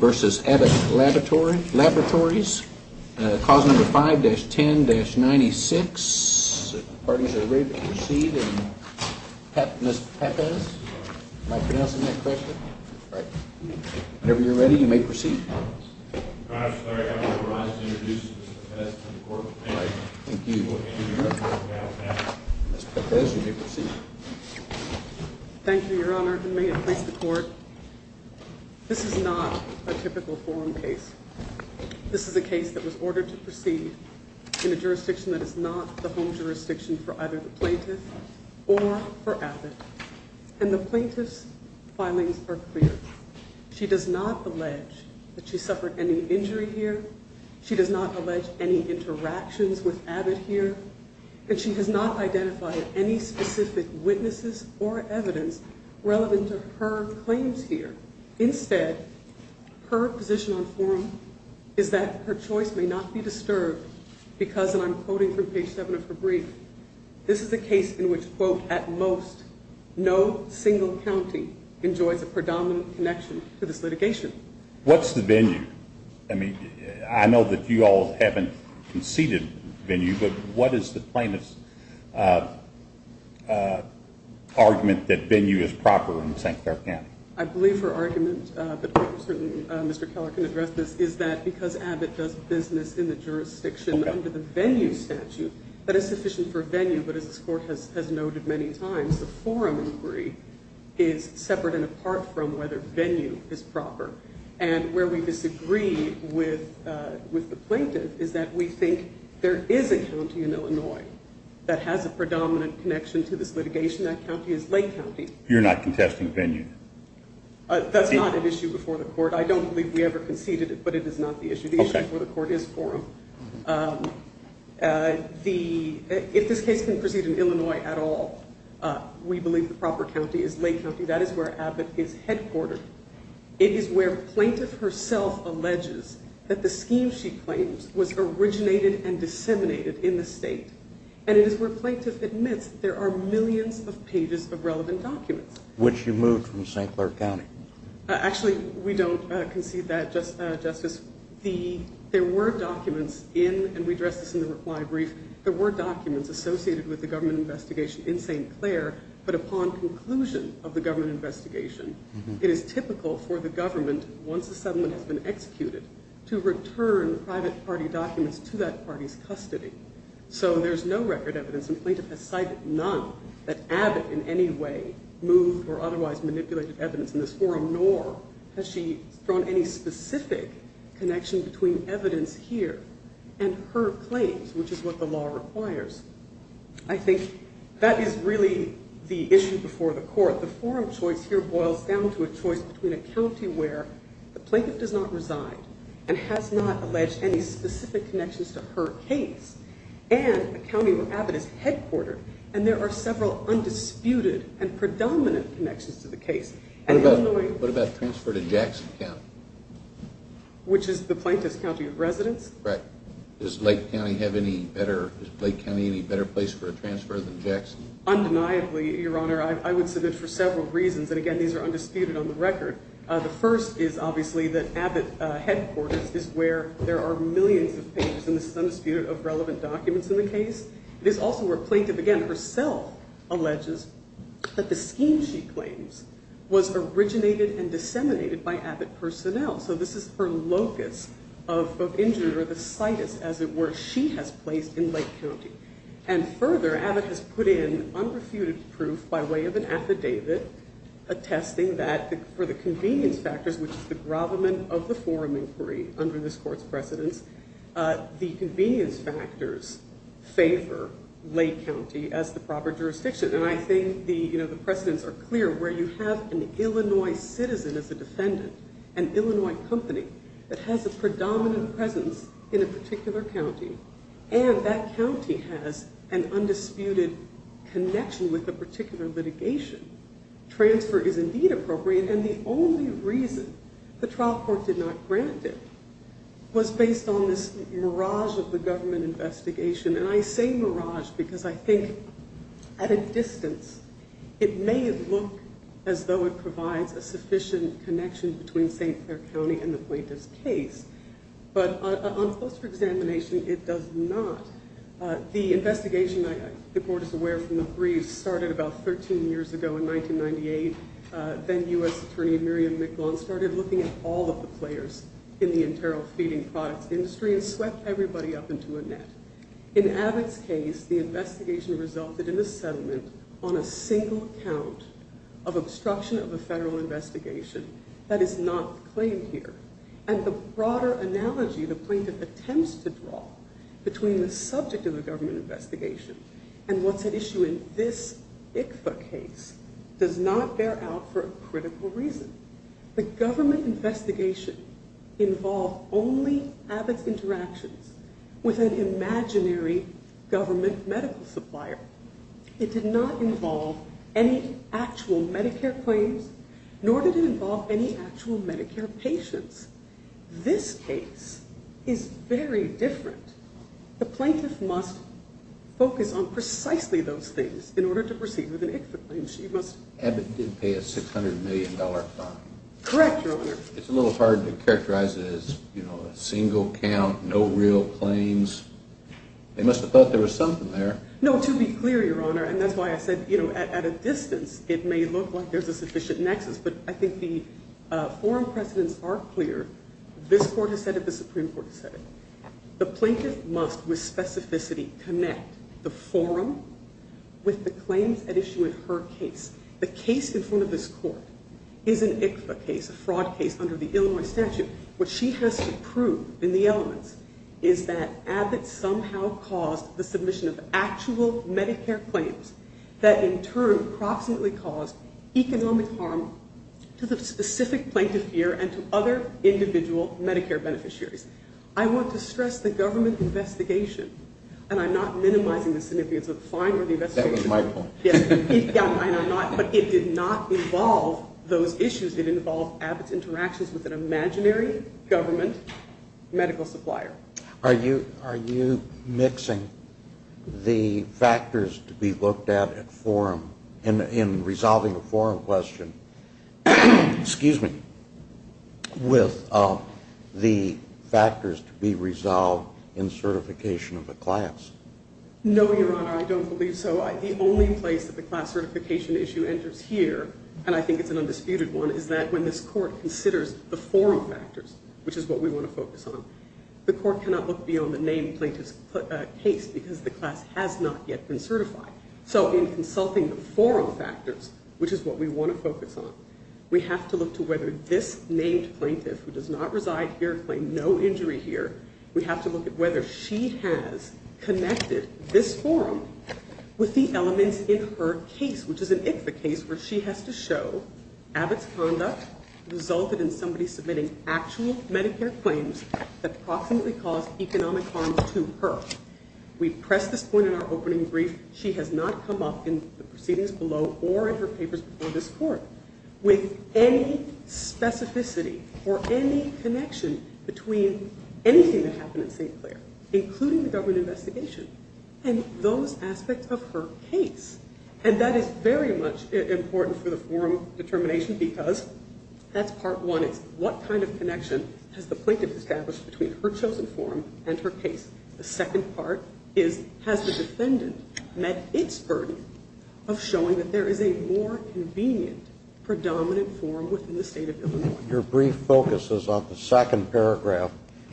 Versus Abbott Laboratory Laboratories causing the 5-10-96 parties are ready to proceed and thank you your honor may it please the court this is not a typical forum case this is a case that was ordered to proceed in a jurisdiction that is not the home jurisdiction for either the plaintiff or for Abbott and the plaintiff's filings are clear she does not allege any interactions with Abbott here and she has not identified any specific witnesses or evidence relevant to her claims here instead her position on forum is that her choice may not be disturbed because and I'm quoting from page 7 of her brief this is a case in which quote at most no single county enjoys a predominant connection to this litigation. What's the venue? I mean I know that you all haven't conceded venue but what is the plaintiff's argument that venue is proper in St. Clair County? I believe her argument but certainly Mr. Keller can address this is that because Abbott does business in the jurisdiction under the venue statute that is sufficient for venue but as this court has noted many times the forum inquiry is separate and apart from whether venue is proper and where we disagree with the plaintiff is that we think there is a county in Illinois that has a predominant connection to this litigation that county is Lake County. You're not contesting venue? That's not an issue before the court I don't believe we ever conceded it but it is not the issue the issue before the court is forum. If this case can proceed in Illinois at all we believe the proper county is Lake County that is where Abbott is headquartered it is where plaintiff herself alleges that the scheme she claims was originated and disseminated in the state and it is where plaintiff admits there are millions of pages of relevant documents. Which you moved from St. Clair County? Actually we don't concede that Justice. There were documents in and we addressed this in the reply brief there were documents associated with the government investigation in St. Clair but upon conclusion of the government investigation it is typical for the government once a settlement has been executed to return private party documents to that party's custody. So there is no record evidence and plaintiff has cited none that Abbott in any way moved or otherwise manipulated evidence in this forum nor has she drawn any specific connection between evidence here and her claims which is what the law requires. I think that is really the issue before the court the forum choice here boils down to a choice between a county where the plaintiff does not reside and has not alleged any specific connections to her case and a county where Abbott is headquartered and there are several undisputed and predominant connections to the case. What about transfer to Jackson County? Which is the plaintiff's county of residence? Does Lake County have any better place for a transfer than Jackson? Undeniably your honor I would submit for several reasons and again these are undisputed on the record. The first is obviously that Abbott headquarters is where there are millions of pages and this is undisputed of relevant documents in the case. It is also where plaintiff again herself alleges that the scheme she claims was originated and disseminated by Abbott personnel. So this is her locus of injury or the situs as it were she has placed in Lake County. And further Abbott has put in unrefuted proof by way of an affidavit attesting that for the convenience factors which is the grovelment of the forum inquiry under this court's precedence the convenience factors favor Lake County as the proper jurisdiction. And I think the precedence are clear where you have an Illinois citizen as a defendant, an Illinois company that has a predominant presence in a particular county. And that county has an undisputed connection with a particular litigation. Transfer is indeed appropriate and the only reason the trial court did not grant it was based on this mirage of the government investigation. And I say mirage because I think at a distance it may look as though it provides a sufficient connection between St. Clair County and the plaintiff's case. But on closer examination it does not. The investigation the court is aware from the brief started about 13 years ago in 1998. The then U.S. attorney Miriam McGon started looking at all of the players in the enteral feeding products industry and swept everybody up into a net. In Abbott's case the investigation resulted in a settlement on a single count of obstruction of a federal investigation that is not claimed here. And the broader analogy the plaintiff attempts to draw between the subject of the government investigation and what's at issue in this ICFA case does not bear out for a critical reason. The government investigation involved only Abbott's interactions with an imaginary government medical supplier. It did not involve any actual Medicare claims nor did it involve any actual Medicare patients. This case is very different. The plaintiff must focus on precisely those things in order to proceed with an ICFA claim. Abbott did pay a $600 million fine. Correct, your honor. It's a little hard to characterize it as a single count, no real claims. They must have thought there was something there. It's unclear, your honor, and that's why I said at a distance it may look like there's a sufficient nexus. But I think the forum precedents are clear. This court has said it, the Supreme Court has said it. The plaintiff must with specificity connect the forum with the claims at issue in her case. The case in front of this court is an ICFA case, a fraud case under the Illinois statute. What she has to prove in the elements is that Abbott somehow caused the submission of actual Medicare claims that in turn proximately caused economic harm to the specific plaintiff here and to other individual Medicare beneficiaries. I want to stress the government investigation, and I'm not minimizing the significance of the fine or the investigation. That was my point. But it did not involve those issues. It involved Abbott's interactions with an imaginary government medical supplier. Are you mixing the factors to be looked at in resolving a forum question with the factors to be resolved in certification of a class? No, your honor, I don't believe so. That's why the only place that the class certification issue enters here, and I think it's an undisputed one, is that when this court considers the forum factors, which is what we want to focus on, the court cannot look beyond the named plaintiff's case because the class has not yet been certified. So in consulting the forum factors, which is what we want to focus on, we have to look to whether this named plaintiff, who does not reside here, claimed no injury here, we have to look at whether she has connected this forum with the elements in her case, which is an ICFA case where she has to show Abbott's conduct resulted in somebody submitting actual Medicare claims that approximately caused economic harm to her. We press this point in our opening brief. She has not come up in the proceedings below or in her papers before this court with any specificity or any connection between anything that happened in St. Clair, including the government investigation, and those aspects of her case. And that is very much important for the forum determination because that's part one. It's what kind of connection has the plaintiff established between her chosen forum and her case? The second part is, has the defendant met its burden of showing that there is a more convenient predominant forum within the state of Illinois? Your brief focuses on the second paragraph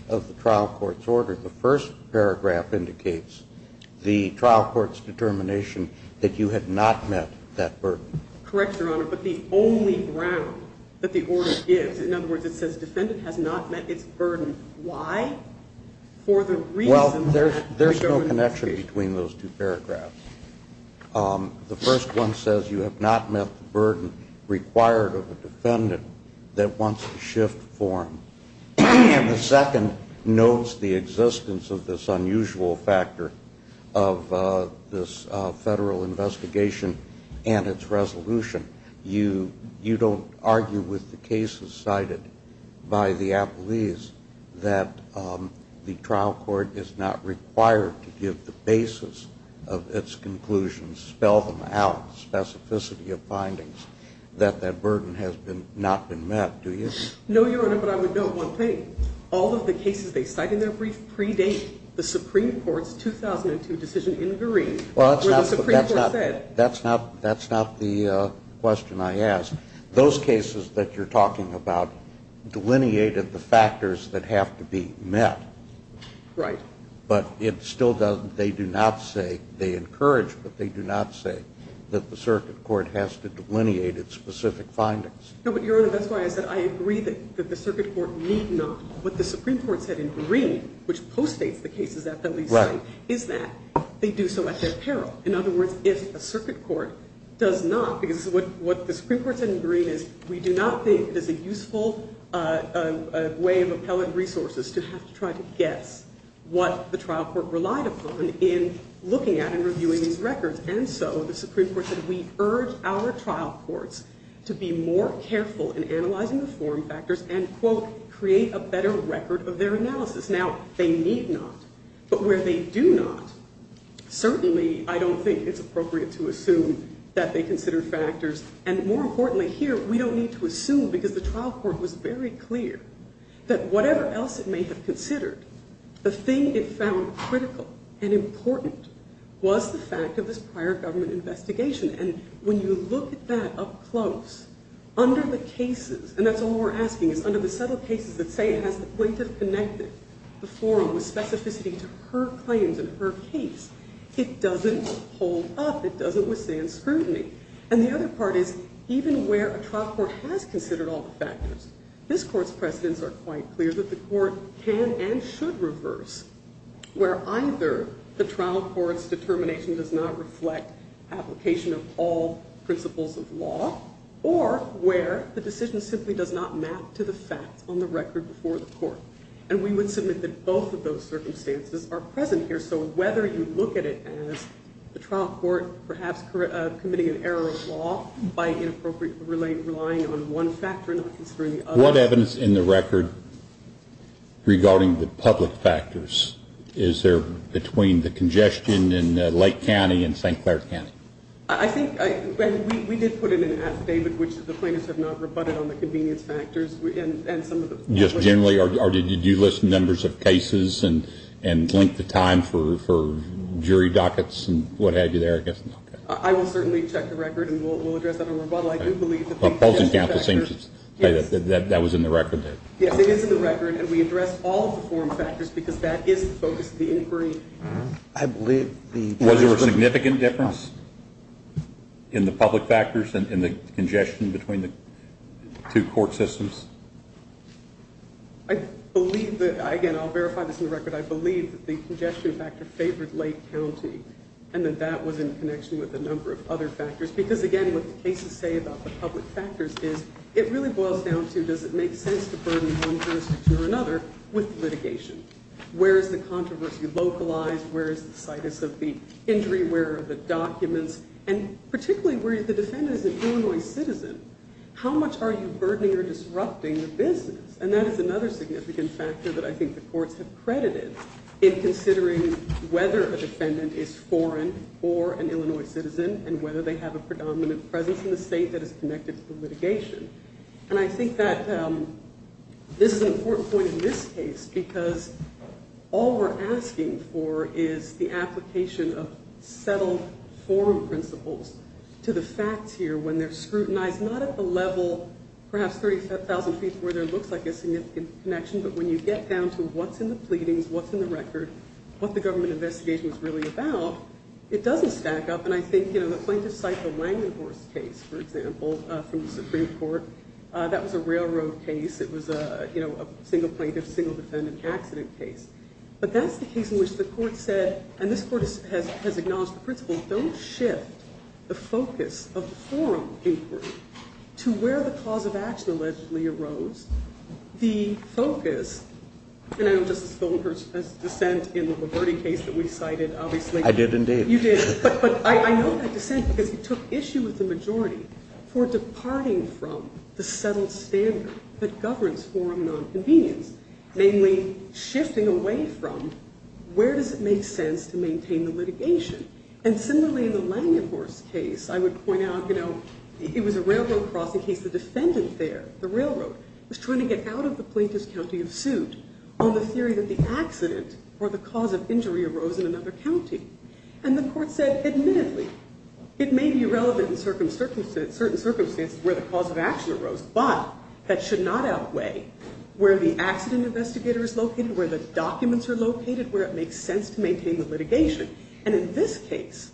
of the trial court's order. The first paragraph indicates the trial court's determination that you had not met that burden. Correct, Your Honor, but the only ground that the order gives, in other words, it says defendant has not met its burden. Why? For the reason that there is no connection between those two paragraphs. The first one says you have not met the burden required of a defendant that wants to shift forum. And the second notes the existence of this unusual factor of this federal investigation and its resolution. You don't argue with the cases cited by the appellees that the trial court is not required to give the basis of its conclusions, spell them out, specificity of findings, that that burden has not been met, do you? No, Your Honor, but I would note one thing. All of the cases they cite in their brief predate the Supreme Court's 2002 decision in Green where the Supreme Court said. That's not the question I asked. Those cases that you're talking about delineated the factors that have to be met. But it still doesn't, they do not say, they encourage, but they do not say that the circuit court has to delineate its specific findings. No, but Your Honor, that's why I said I agree that the circuit court need not, what the Supreme Court said in Green, which post-states the cases that the appellees cite, is that they do so at their peril. In other words, if a circuit court does not, because what the Supreme Court said in Green is, we do not think it is a useful way of appellate resources to have to try to guess what the trial court relied upon in looking at and reviewing these records. And so the Supreme Court said we urge our trial courts to be more careful in analyzing the foreign factors and, quote, create a better record of their analysis. Now, they need not, but where they do not, certainly I don't think it's appropriate to assume that they consider factors. And more importantly here, we don't need to assume because the trial court was very clear that whatever else it may have considered, the thing it found critical and important was the fact of this prior government investigation. And when you look at that up close, under the cases, and that's all we're asking is under the subtle cases that say it has the plaintiff connected the forum with specificity to her claims in her case, it doesn't hold up, it doesn't withstand scrutiny. And the other part is even where a trial court has considered all the factors, this court's precedents are quite clear that the court can and should reverse where either the trial court's determination does not reflect application of all principles of law or where the decision simply does not map to the facts on the record before the court. And we would submit that both of those circumstances are present here. So whether you look at it as the trial court perhaps committing an error of law by inappropriately relying on one factor and not considering the other. What evidence in the record regarding the public factors? Is there between the congestion in Lake County and St. Clair County? I think, and we did put in an affidavit which the plaintiffs have not rebutted on the convenience factors and some of the public factors. Just generally or did you list numbers of cases and link the time for jury dockets and what have you there? I will certainly check the record and we'll address that in a rebuttal. I do believe that the congestion factors. The opposing counsel seems to say that that was in the record. Yes, it is in the record and we addressed all of the forum factors because that is the focus of the inquiry. Was there a significant difference in the public factors and the congestion between the two court systems? I believe that, again I'll verify this in the record, I believe that the congestion factor favored Lake County and that that was in connection with a number of other factors because again what the cases say about the public factors is it really boils down to does it make sense to burden one jurisdiction or another with litigation? Where is the controversy localized? Where is the situs of the injury? Where are the documents? And particularly where the defendant is an Illinois citizen. How much are you burdening or disrupting the business? And that is another significant factor that I think the courts have credited in considering whether a defendant is foreign or an Illinois citizen and whether they have a predominant presence in the state that is connected to the litigation. And I think that this is an important point in this case because all we're asking for is the application of settled forum principles to the facts here when they're scrutinized not at the level perhaps 35,000 feet where there looks like a significant connection but when you get down to what's in the pleadings, what's in the record, what the government investigation is really about, it doesn't stack up and I think the plaintiffs cite the Langdon Horse case for example from the Supreme Court. That was a railroad case. It was a single plaintiff, single defendant accident case. But that's the case in which the court said and this court has acknowledged the principle don't shift the focus of forum inquiry to where the cause of action allegedly arose. The focus, and I know Justice Goldberg's dissent in the Lombardi case that we cited obviously. I did indeed. You did. But I know that dissent because he took issue with the majority for departing from the settled standard that governs forum nonconvenience, namely shifting away from where does it make sense to maintain the litigation. And similarly in the Langdon Horse case I would point out, you know, it was a railroad crossing case. The defendant there, the railroad, was trying to get out of the plaintiff's county of suit on the theory that the accident or the cause of injury arose in another county. And the court said admittedly it may be relevant in certain circumstances where the cause of action arose but that should not outweigh where the accident investigator is located, where the documents are located, where it makes sense to maintain the litigation. In this case,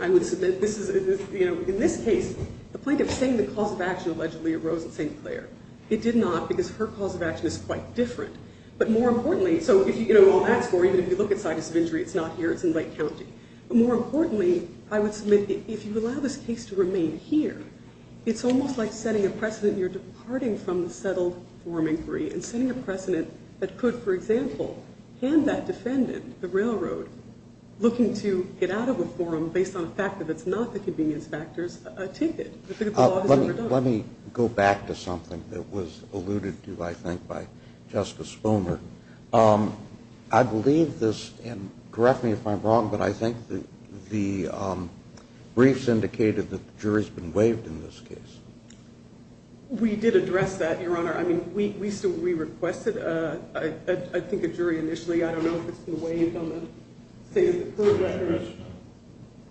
I would submit this is, you know, in this case, the plaintiff saying the cause of action allegedly arose in St. Clair. It did not because her cause of action is quite different. But more importantly, so if you, you know, all that score, even if you look at status of injury, it's not here, it's in Lake County. But more importantly, I would submit if you allow this case to remain here, it's almost like setting a precedent. You're departing from the settled forum inquiry and setting a precedent that could, for example, hand that defendant, the railroad, looking to get out of a forum based on the fact that it's not the convenience factors, a ticket. I think the law has never done that. Let me go back to something that was alluded to, I think, by Justice Boehner. I believe this, and correct me if I'm wrong, but I think the briefs indicated that the jury's been waived in this case. We did address that, Your Honor. I mean, we requested, I think, a jury initially. I don't know if it's been waived on the state of the court record.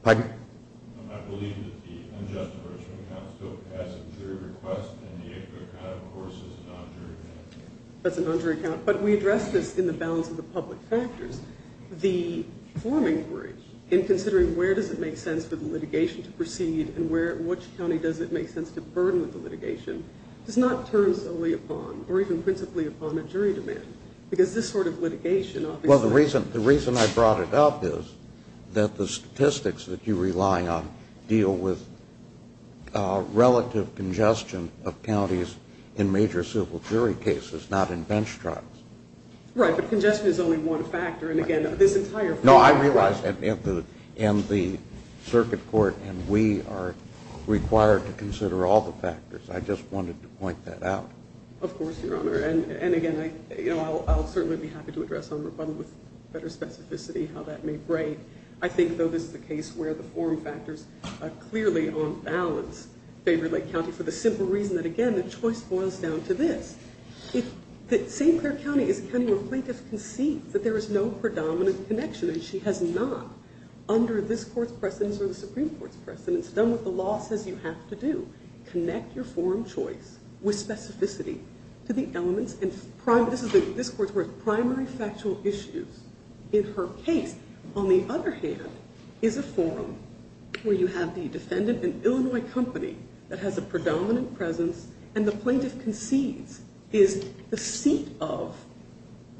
Pardon? I believe that the unjust enrichment account still has a jury request and the equity account, of course, is a non-jury account. That's a non-jury account. But we addressed this in the balance of the public factors. The forum inquiry, in considering where does it make sense to burden with the litigation, does not turn solely upon, or even principally upon, a jury demand. Because this sort of litigation, obviously... Well, the reason I brought it up is that the statistics that you rely on deal with relative congestion of counties in major civil jury cases, not in bench trials. Right, but congestion is only one factor. And, again, this entire forum... No, I realize that in the circuit court, and we are required to consider all the factors. I just wanted to point that out. Of course, Your Honor, and, again, I'll certainly be happy to address on rebuttal with better specificity how that may break. I think, though this is a case where the forum factors are clearly on balance, favor Lake County for the simple reason that, again, the choice boils down to this. St. Clair County is a county where plaintiffs can see that there is no predominant connection, and she has not, under this court's precedence or the Supreme Court's precedence, done what the law says you have to do. Connect your forum choice with specificity to the elements, and this court's words, primary factual issues in her case. On the other hand is a forum where you have the defendant, an Illinois company that has a predominant presence, and the plaintiff concedes is the seat of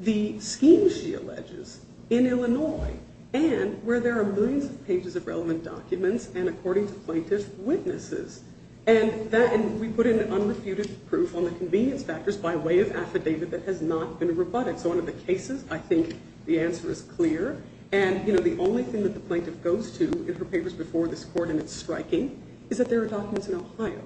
the scheme she alleges in Illinois and where there are millions of pages of relevant documents and, according to plaintiffs, witnesses. And we put in unrefuted proof on the convenience factors by way of affidavit that has not been rebutted. So under the cases, I think the answer is clear. And the only thing that the plaintiff goes to in her papers before this court, and it's striking, is that there are documents in Ohio.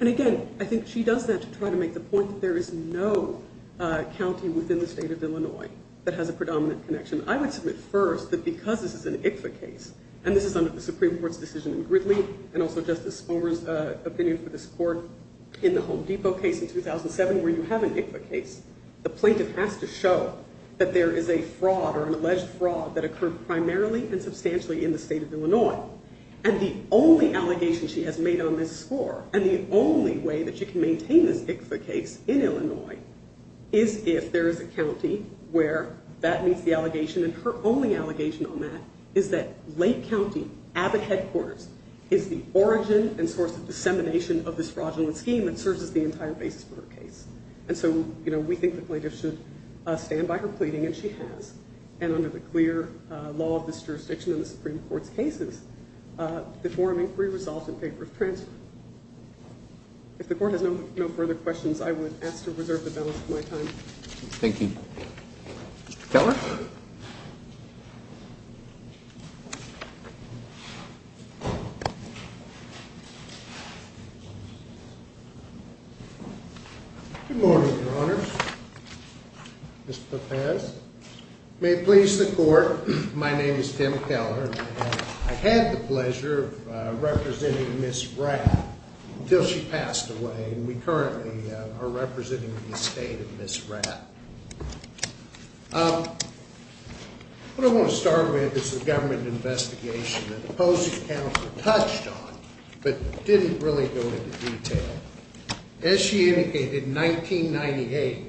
And again, I think she does that to try to make the point that there is no county within the state of Illinois that has a predominant connection. I would submit first that because this is an ICFA case, and this is under the Supreme Court's decision in Gridley and also Justice Spomer's opinion for this court in the Home Depot case in 2007, where you have an ICFA case, the plaintiff has to show that there is a fraud or an alleged fraud that occurred primarily and substantially in the state of Illinois. And the only allegation she has made on this score and the only way that she can maintain this ICFA case in Illinois is if there is a county where that meets the allegation. And her only allegation on that is that Lake County Abbott Headquarters is the origin and source of dissemination of this fraudulent scheme and serves as the entire basis for her case. And so, you know, we think the plaintiff should stand by her pleading, and she has. And under the clear law of this jurisdiction in the Supreme Court's cases, the forum inquiry resolved in favor of transfer. If the court has no further questions, I would ask to reserve the balance of my time. Thank you. Keller? Good morning, Your Honors. Ms. Pepez. May it please the court, my name is Tim Keller, and I had the pleasure of representing Ms. Rapp until she passed away, and we currently are representing the estate of Ms. Rapp. The Governor's report, as I understand it, is a report on the state of Illinois and a government investigation that the opposing counsel touched on but didn't really go into detail. As she indicated, in 1998,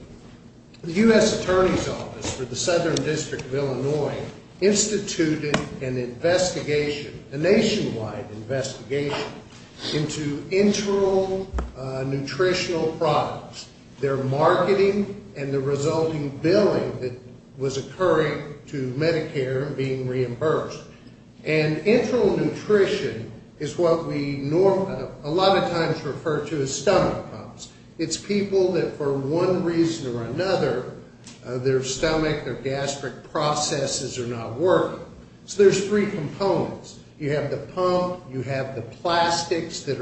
the U.S. Attorney's Office for the Southern District of Illinois instituted an investigation, a nationwide investigation, into internal nutritional products, their marketing, and the resulting billing that was occurring to Medicare and being reimbursed. And internal nutrition is what we a lot of times refer to as stomach pumps. It's people that, for one reason or another, their stomach or gastric processes are not working. So there's three components. You have the pump, you have the plastics that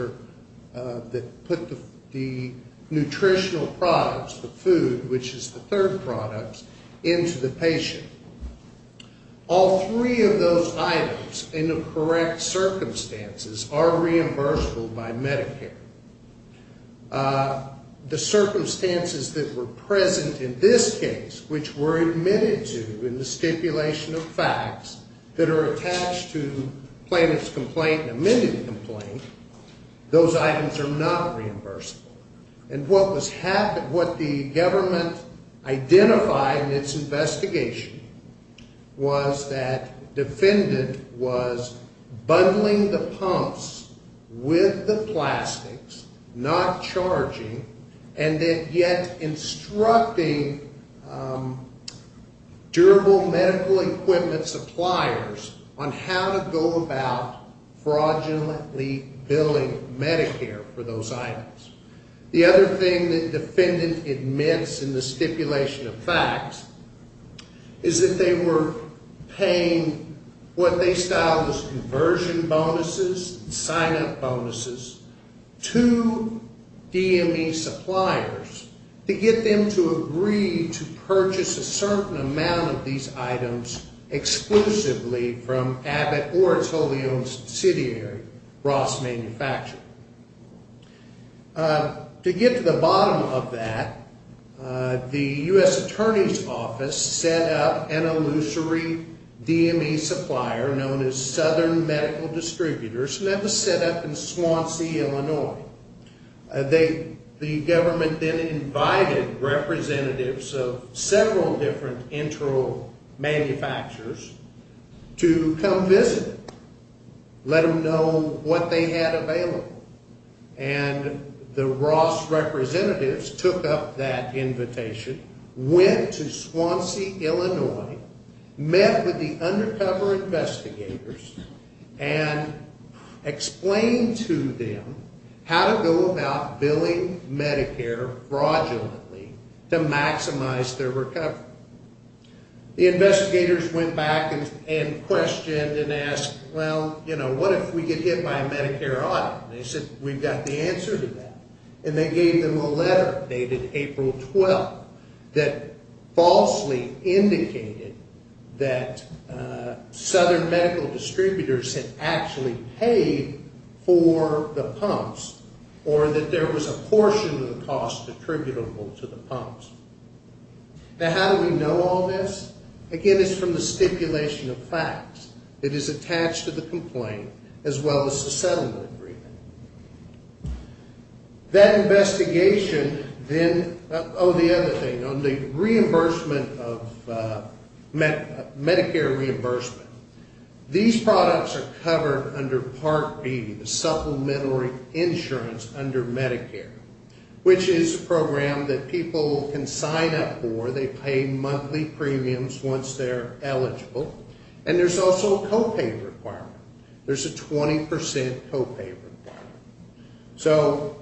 put the nutritional products, the food, which is the third product, into the patient. All three of those items, in the correct circumstances, are reimbursable by Medicare. The circumstances that were present in this case, which were admitted to in the stipulation of facts that are attached to plaintiff's complaint and amended complaint, those items are not reimbursable. And what the government identified in its investigation was that defendant was bundling the pumps with the plastics, not charging, and then yet instructing durable medical equipment suppliers on how to go about fraudulently billing Medicare for those items. The other thing that defendant admits in the stipulation of facts is that they were paying what they styled as conversion bonuses, sign-up bonuses, to DME suppliers to get them to agree to purchase a certain amount of these items exclusively from Abbott or its wholly-owned subsidiary, Ross Manufacturing. To get to the bottom of that, the U.S. Attorney's Office set up an illusory DME supplier known as Southern Medical Distributors, and that was set up in Swansea, Illinois. The government then invited representatives of several different internal manufacturers to come visit, let them know what they had available. And the Ross representatives took up that invitation, went to Swansea, Illinois, met with the undercover investigators, and explained to them how to go about billing Medicare fraudulently to maximize their recovery. The investigators went back and questioned and asked, well, what if we get hit by a Medicare audit? They said, we've got the answer to that. And they gave them a letter dated April 12th that falsely indicated that Southern Medical Distributors had actually paid for the pumps or that there was a portion of the cost attributable to the pumps. Now, how do we know all this? Again, it's from the stipulation of facts. It is attached to the complaint as well as the settlement agreement. That investigation, then, oh, the other thing, on the reimbursement of Medicare reimbursement, these products are covered under Part B, the supplementary insurance under Medicare, which is a program that people can sign up for. They pay monthly premiums once they're eligible. And there's also a co-pay requirement. There's a 20% co-pay requirement. So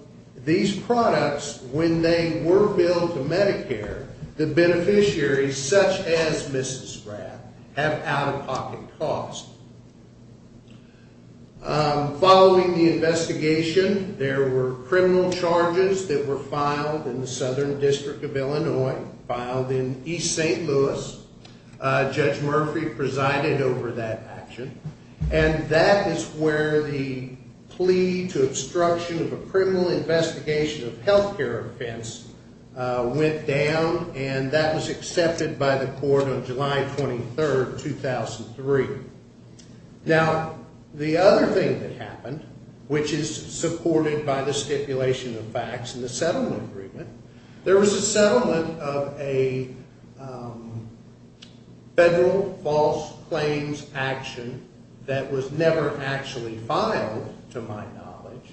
these products, when they were billed to Medicare, the beneficiaries, such as Mrs. Graff, have out-of-pocket costs. Following the investigation, there were criminal charges that were filed in the Southern District of Illinois, filed in East St. Louis. Judge Murphy presided over that action. And that is where the plea to obstruction of a criminal investigation of health care offense went down, and that was accepted by the court on July 23, 2003. Now, the other thing that happened, which is supported by the stipulation of facts and the settlement agreement, there was a settlement of a federal false claims action that was never actually filed, to my knowledge.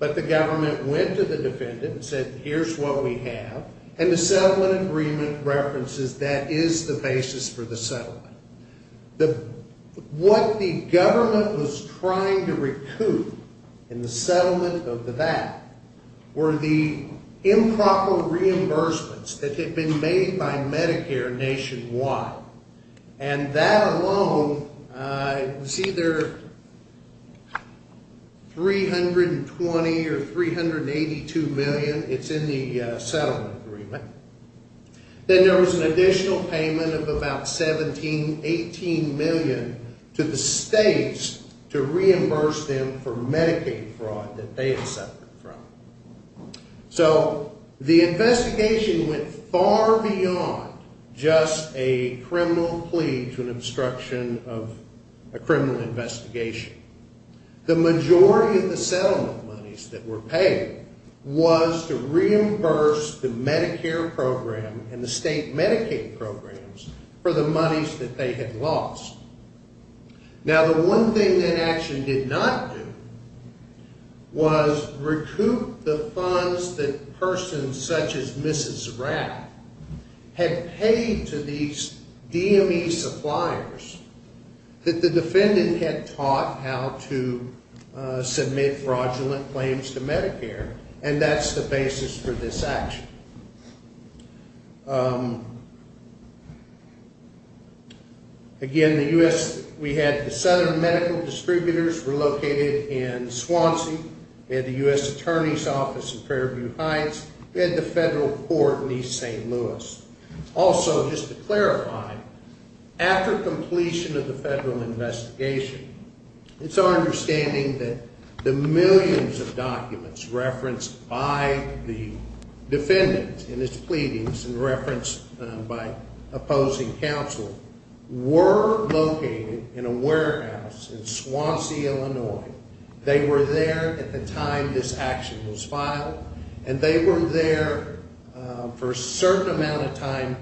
But the government went to the defendant and said, here's what we have. And the settlement agreement references that is the basis for the settlement. What the government was trying to recoup in the settlement of that were the improper reimbursements that had been made by Medicare nationwide. And that alone was either 320 or 382 million. It's in the settlement agreement. Then there was an additional payment of about 17, 18 million to the states to reimburse them for Medicaid fraud that they had suffered from. So the investigation went far beyond just a criminal plea to an obstruction of a criminal investigation. The majority of the settlement monies that were paid was to reimburse the Medicare program and the state Medicaid programs for the monies that they had lost. Now, the one thing that action did not do was recoup the funds that persons such as Mrs. Rapp had paid to these DME suppliers that the defendant had taught how to submit fraudulent claims to Medicare. And that's the basis for this action. Again, the U.S., we had the southern medical distributors were located in Swansea. We had the U.S. Attorney's Office in Prairie View Heights. We had the federal court in East St. Louis. Also, just to clarify, after completion of the federal investigation, it's our understanding that the millions of documents referenced by the defendant in his pleadings and referenced by opposing counsel were located in a warehouse in Swansea, Illinois. They were there at the time this action was filed and they were there for a certain amount of time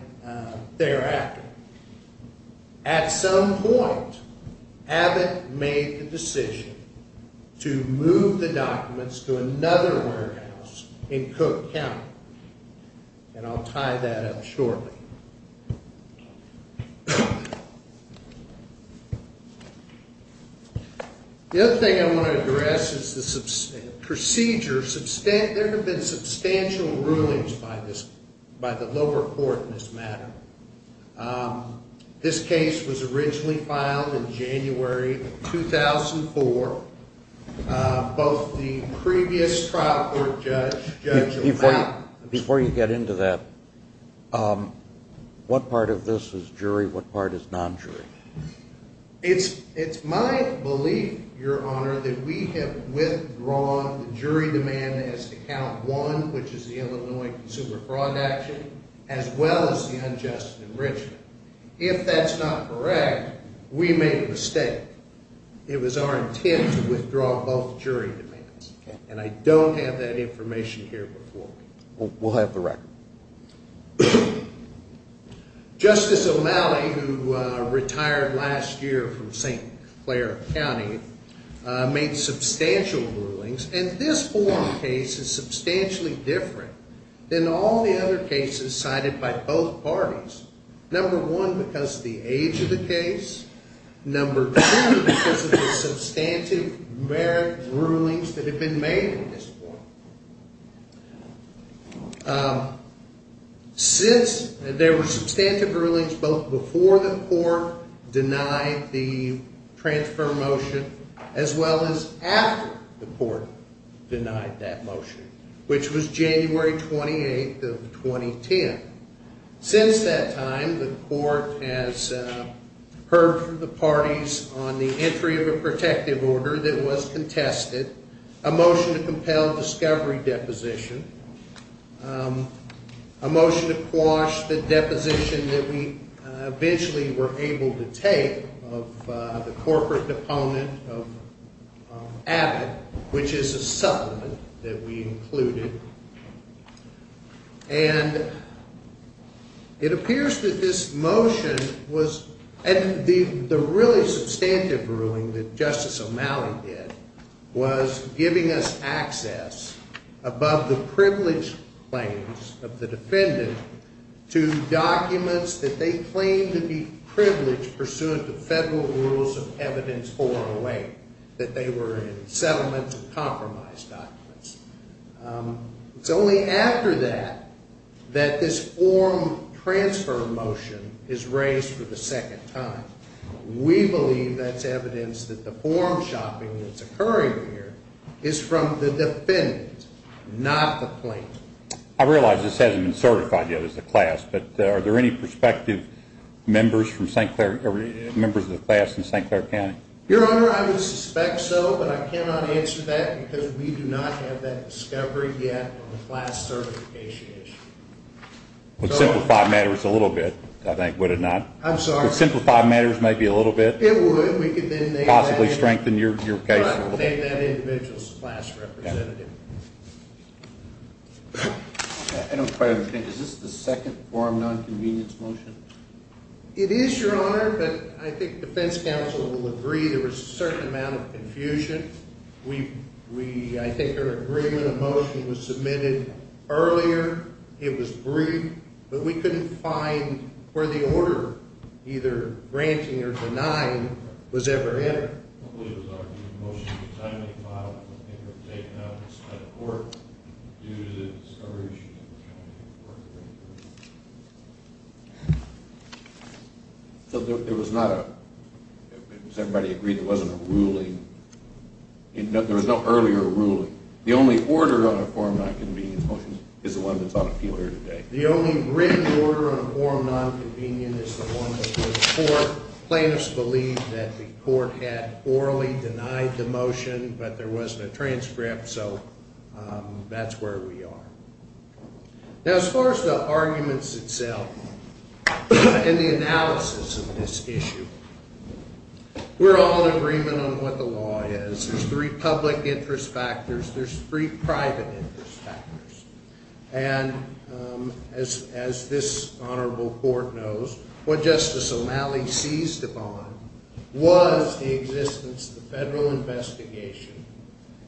thereafter. At some point, Abbott made the decision to move the documents to another warehouse in Cook County. And I'll tie that up shortly. The other thing I want to address is the procedure. There have been substantial rulings by the lower court in this matter. This case was originally filed in January of 2004. Both the previous trial court judge... Before you get into that, what part of this is jury? What part is non-jury? It's my belief, Your Honor, that we have withdrawn the jury demand as well as the unjust enrichment. If that's not correct, we made a mistake. It was our intent to withdraw both jury demands. And I don't have that information here before me. We'll have the record. Justice O'Malley, who retired last year from St. Clair County, made substantial rulings. And this one case is substantially different than all the other cases cited by both parties. Number one, because of the age of the case. Number two, because of the substantive merit rulings that have been made at this point. Since there were substantive rulings both before the court denied the transfer motion as well as after the court denied that motion, which was January 28th of 2010. Since that time, the court has heard from the parties on the entry of a protective order that was contested, a motion to compel discovery deposition, a motion to quash the deposition that we eventually were able to take of the corporate opponent of Abbott, which is a supplement that we included. And it appears that this motion was, and the really substantive ruling that Justice O'Malley did, was giving us access above the privileged claims of the defendant to documents that they claim to be privileged pursuant to Section 408 that they were in settlement and compromise documents. It's only after that that this form transfer motion is raised for the second time. We believe that's evidence that the form shopping that's occurring here is from the defendant, not the plaintiff. I realize this hasn't been certified yet as a class, but are there any prospective members of the class in St. Clair County? Your Honor, I would suspect so, but I cannot answer that because we do not have that discovery yet on the class certification issue. Would simplify matters a little bit, I think, would it not? I'm sorry? Would simplify matters maybe a little bit, possibly strengthen your case a little bit? I don't quite understand. Is this the second form nonconvenience motion? It is, Your Honor, but I think the defense counsel will agree there was a certain amount of confusion. We I think our agreement of motion was submitted earlier, it was brief, but we couldn't find where the order either granting or denying was ever entered. I believe it was argued the motion was a timely model, it was never taken up by the court due to the discovery of the motion. So there was not a was everybody agreed there wasn't a ruling? There was no earlier ruling. The only order on a form nonconvenience motion is the one that's on appeal here today. The only written order on a form nonconvenience motion is the one that's on appeal today. So the court plaintiffs believed that the court had orally denied the motion, but there wasn't a transcript, so that's where we are. Now as far as the arguments itself, and the analysis of this issue, we're all in agreement on what the law is. There's three public interest factors, there's three private interest factors, and as this honorable court knows, what Justice O'Malley seized upon was the existence of the federal investigation,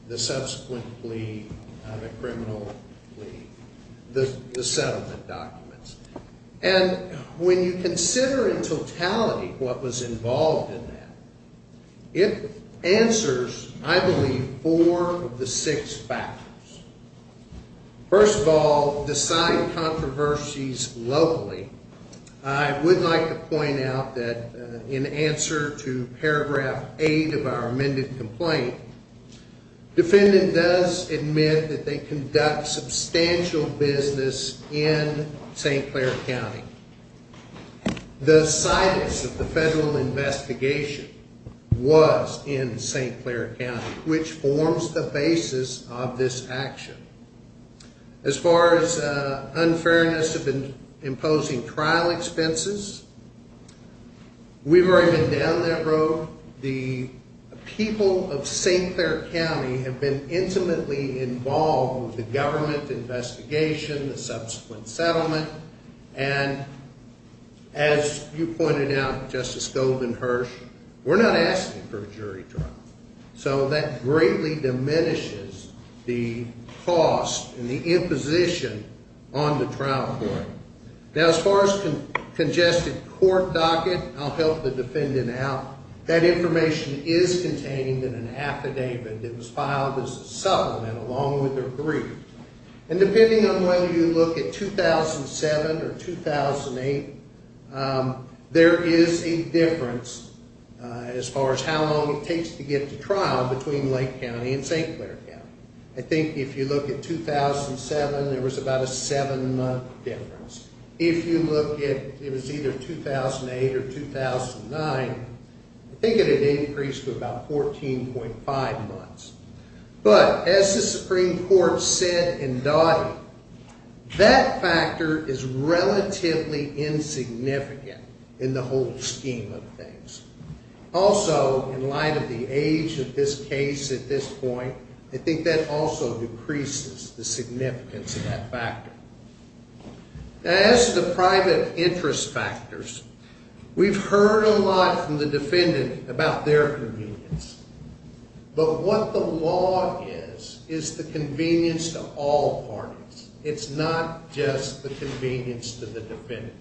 the subsequent plea, the criminal plea, the settlement documents. And when you consider in totality what was involved in that, it answers, I believe, four of the six factors. First of all, decide controversies locally. I would like to point out that in answer to paragraph eight of the investigation, there was substantial business in St. Clair County. The situs of the federal investigation was in St. Clair County, which forms the basis of this action. As far as unfairness of imposing trial court expenses, we've already been down that road. The people of St. Clair County have been intimately involved with the government investigation, the subsequent settlement, and as you pointed out, Justice Goldman-Hirsch, we're not asking for jury trial. So that greatly diminishes the cost and the imposition on the trial court. Now, as far as congested court docket, I'll help the defendant out. That information is contained in an affidavit that was filed as a supplement along with their brief. And depending on whether you look at the actual court records, the supreme court said in Dottie, that factor is relatively insignificant in the whole scheme of things. Also, in light of the age of this case at this point, I think that also decreases the significance of that factor. As to private interest factors, we've heard a lot from the defendant about their convenience. But what the law is, is the convenience to all parties. It's not just the convenience to the defendant.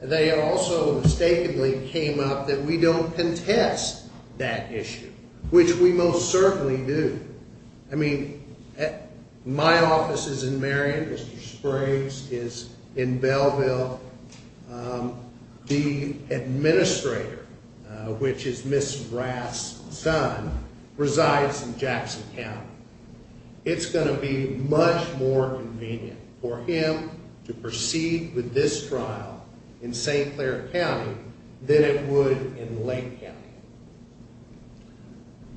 They also mistakenly came up that we don't contest that issue, which we most certainly do. I mean, my office is in Marion, Mr. Sprague's is in Belleville. The administrator, which is Ms. Rath's son, resides in Jackson County. It's going to be much more convenient for him to proceed with this trial in St. Clair County than it would in Lake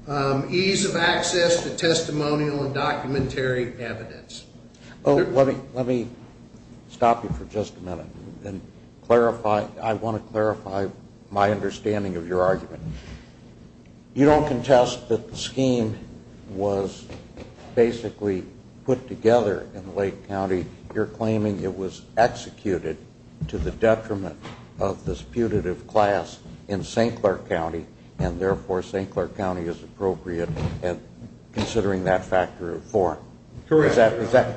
County. Ease of access to testimonial and documentary evidence. Let me stop you for just a minute and clarify, I want to clarify my understanding of your argument. You don't contest that the scheme was basically put together in Lake County. You're claiming it was executed to the detriment of this putative class in St. Clair County and therefore St. Clair County is appropriate considering that factor of four. Is that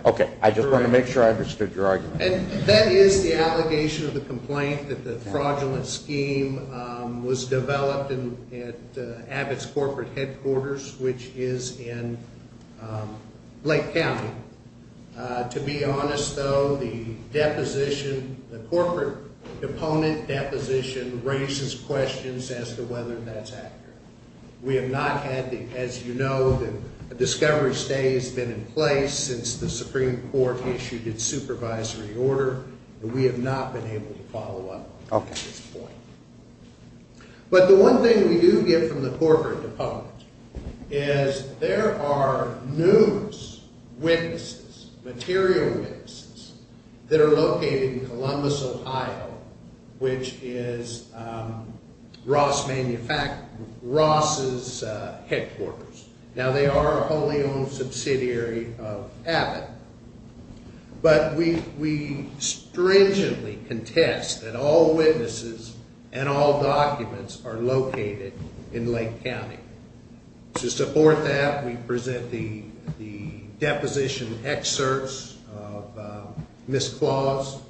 correct? I just want to make sure I understood your question. We have not had the allegation of the complaint that the fraudulent scheme was developed at Abbott's corporate headquarters which is in Lake County. To be honest, though, the deposition, the corporate deponent deposition raises questions as to whether that's accurate. We have not had the, as you know, the discovery stay has been in place since the Supreme Court issued its supervisory order. We have not been able to follow up at this point. But the one thing we do get from the corporate deponent is there are numerous witnesses, material witnesses, that are located in Columbus, Ohio, which is Ross's headquarters. Now, they are wholly owned subsidiary of Abbott. But we stringently contest that all witnesses and all documents are located in Lake County. To support that, we present the deposition excerpts of the misclause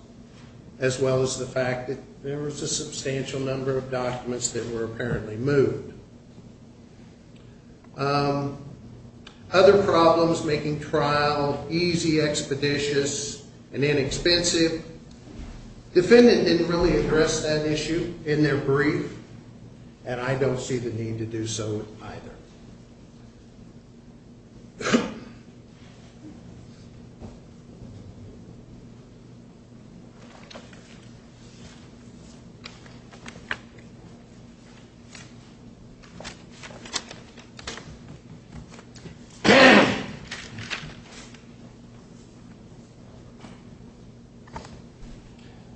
as well as the fact that there was a substantial number of documents that were apparently moved. Other problems making trial easy, expeditious, and inexpensive, defendant didn't really address that issue in their brief, and I don't see the need to do so either.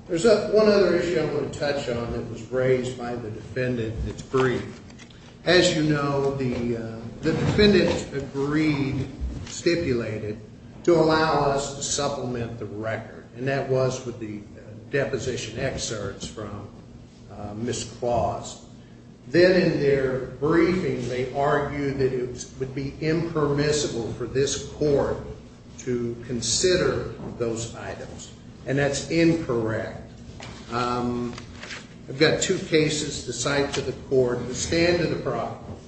There's one other issue I want to touch on that was raised by the defendant was charged with misdemeanor assault. And the defendant was charged with misdemeanor assault. And the defendant agreed, stipulated, to allow us to supplement the record. And that was with the deposition excerpts from misclause. Then in their briefing, they argued that it would be impermissible for this court to consider those items. And that's incorrect. I've got two cases to cite to the court that stand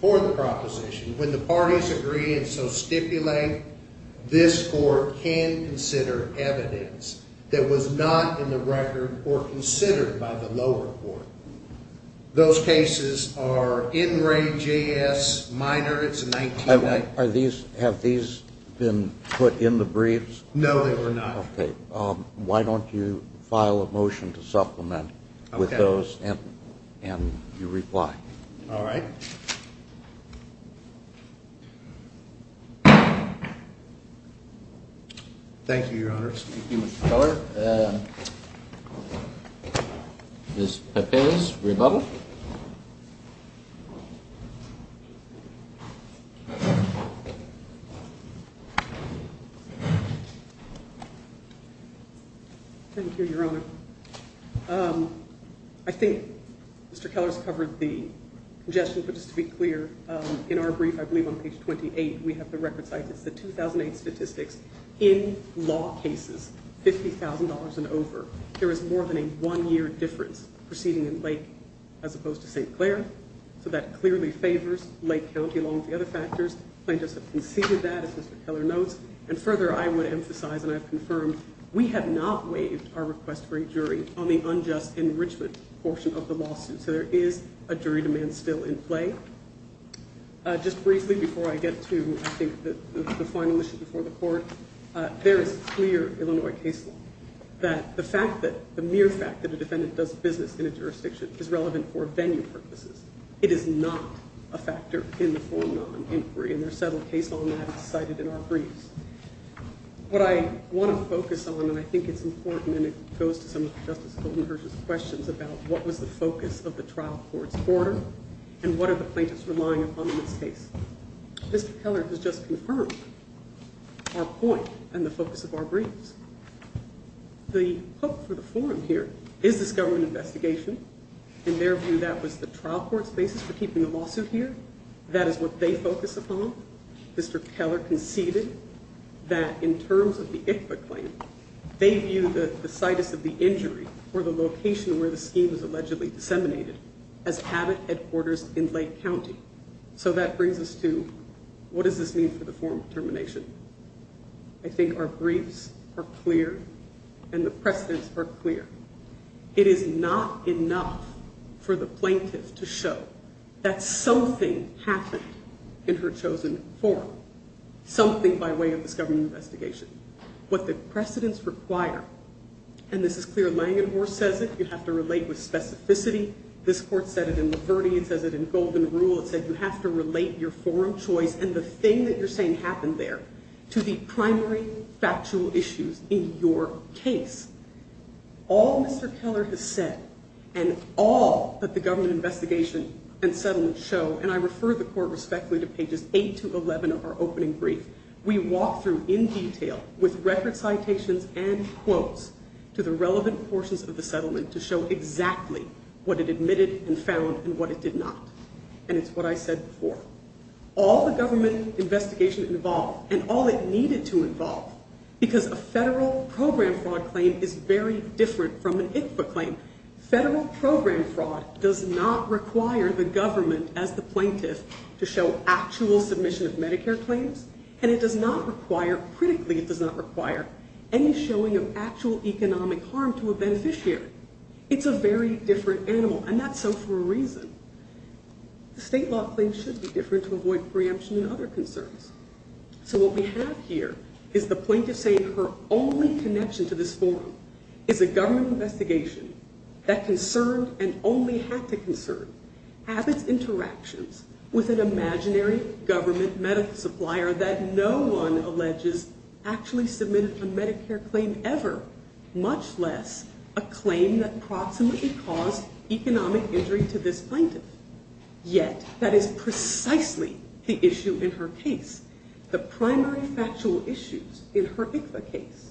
for the proposition. When the parties agree and so stipulate, this court can consider evidence that was not in the record or considered by the lower court. Those cases are in the record. So why don't you file a motion to supplement with those and you reply. All right. Thank you, Your Honor. Thank you, Mr. Keller. Ms. Pepe's rebuttal. Thank you, Your Honor. I think Mr. Keller's covered the congestion, but just to be clear, in our brief, I believe on page 28, we have the record cited. It's the 2008 statistics in law cases, $50,000 and over. There was more than a one-year difference proceeding in Lake to St. Clair. So that clearly favors Lake County along with the other factors. Plaintiffs have conceded that, as Mr. Keller notes. And further, I would emphasize, and I've confirmed, we have not waived our request for a jury on the unjust enrichment portion of the lawsuit. So there is a jury demand still in play. Just briefly before I get to, I think, the final issue before the court, there is clear Illinois case law that the mere fact that a defendant does business in a jurisdiction is relevant for venue purposes. It is not a factor in the formal inquiry. And there is a is relevant for venue purposes. And there is a clear demand for a jury to do business in a jurisdiction that does not that does not require a jury to do business in a jurisdiction that does not require a jury to do business jurisdiction jury to do business in a jurisdiction that does not require jury to do business in that jurisdiction, what it admitted and found and what it did not. And it's what I said before. All the government investigation involved and all it needed to involve because a federal program fraud claim is very different from an ICFA claim. Federal program fraud does not require the government as the plaintiff to show actual submission of Medicare claims and it does not require any showing of actual economic harm to a beneficiary. It's a very different animal and that's so for a reason. State law claims should be different to avoid preemption and other concerns. So what we have here is the plaintiff saying her only connection to this forum is a government investigation that concerned and only had to concern Abbott's interactions with an imaginary government medical supplier that no one alleges actually submitted a Medicare claim ever much less a claim that proximately caused economic injury to this plaintiff. Yet that is precisely the issue in her case. The primary factual issues in her ICFA case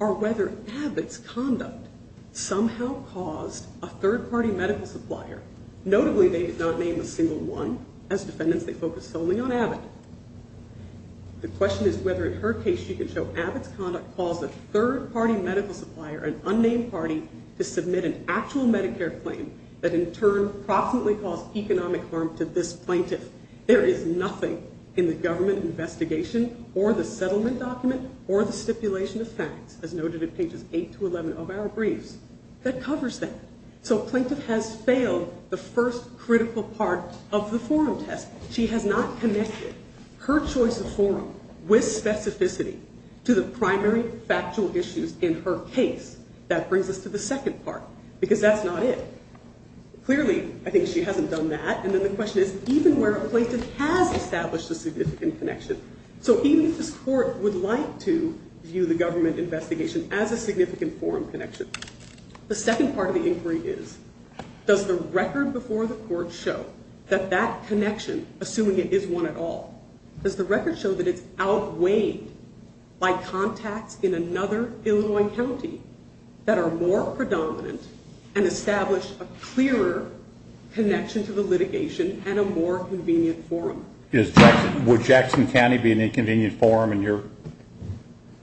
are whether Abbott's conduct somehow caused a third-party medical supplier. Notably they did not name a single one. As defendants they focused solely on the claim that in turn proximately caused economic harm to this plaintiff. There is nothing in the government investigation or the settlement document or the stipulation of facts as noted in pages 8-11 of our briefs that covers that. So a plaintiff has failed the first critical part of the forum test. She has not connected her choice of forum with specificity to the primary factual issues in her case. That brings us to the second part because that's not it. Clearly I think she hasn't done that and then the question is even where a plaintiff has done that, does the record before the court show that that connection, assuming it is one at all, does the record show that it's outweighed by contacts in another Illinois county that are more predominant and establish a clearer connection to the litigation and a more convenient forum? Would Jackson County be an inconvenient forum in your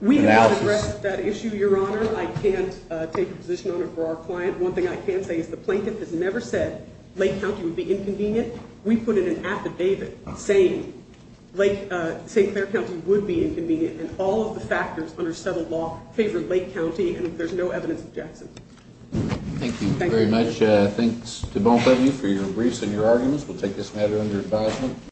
analysis? We have not addressed that issue, Your Honor. I can't take a position on it for our client. One thing I can say is the plaintiff has never said Lake County would be inconvenient. We put in an affidavit saying St. Clair County would be inconvenient in all of the factors under settled law favoring Lake County and there's no evidence of Jackson. Thank you very much. Thanks to both of you for your briefs and your arguments. We'll take this matter under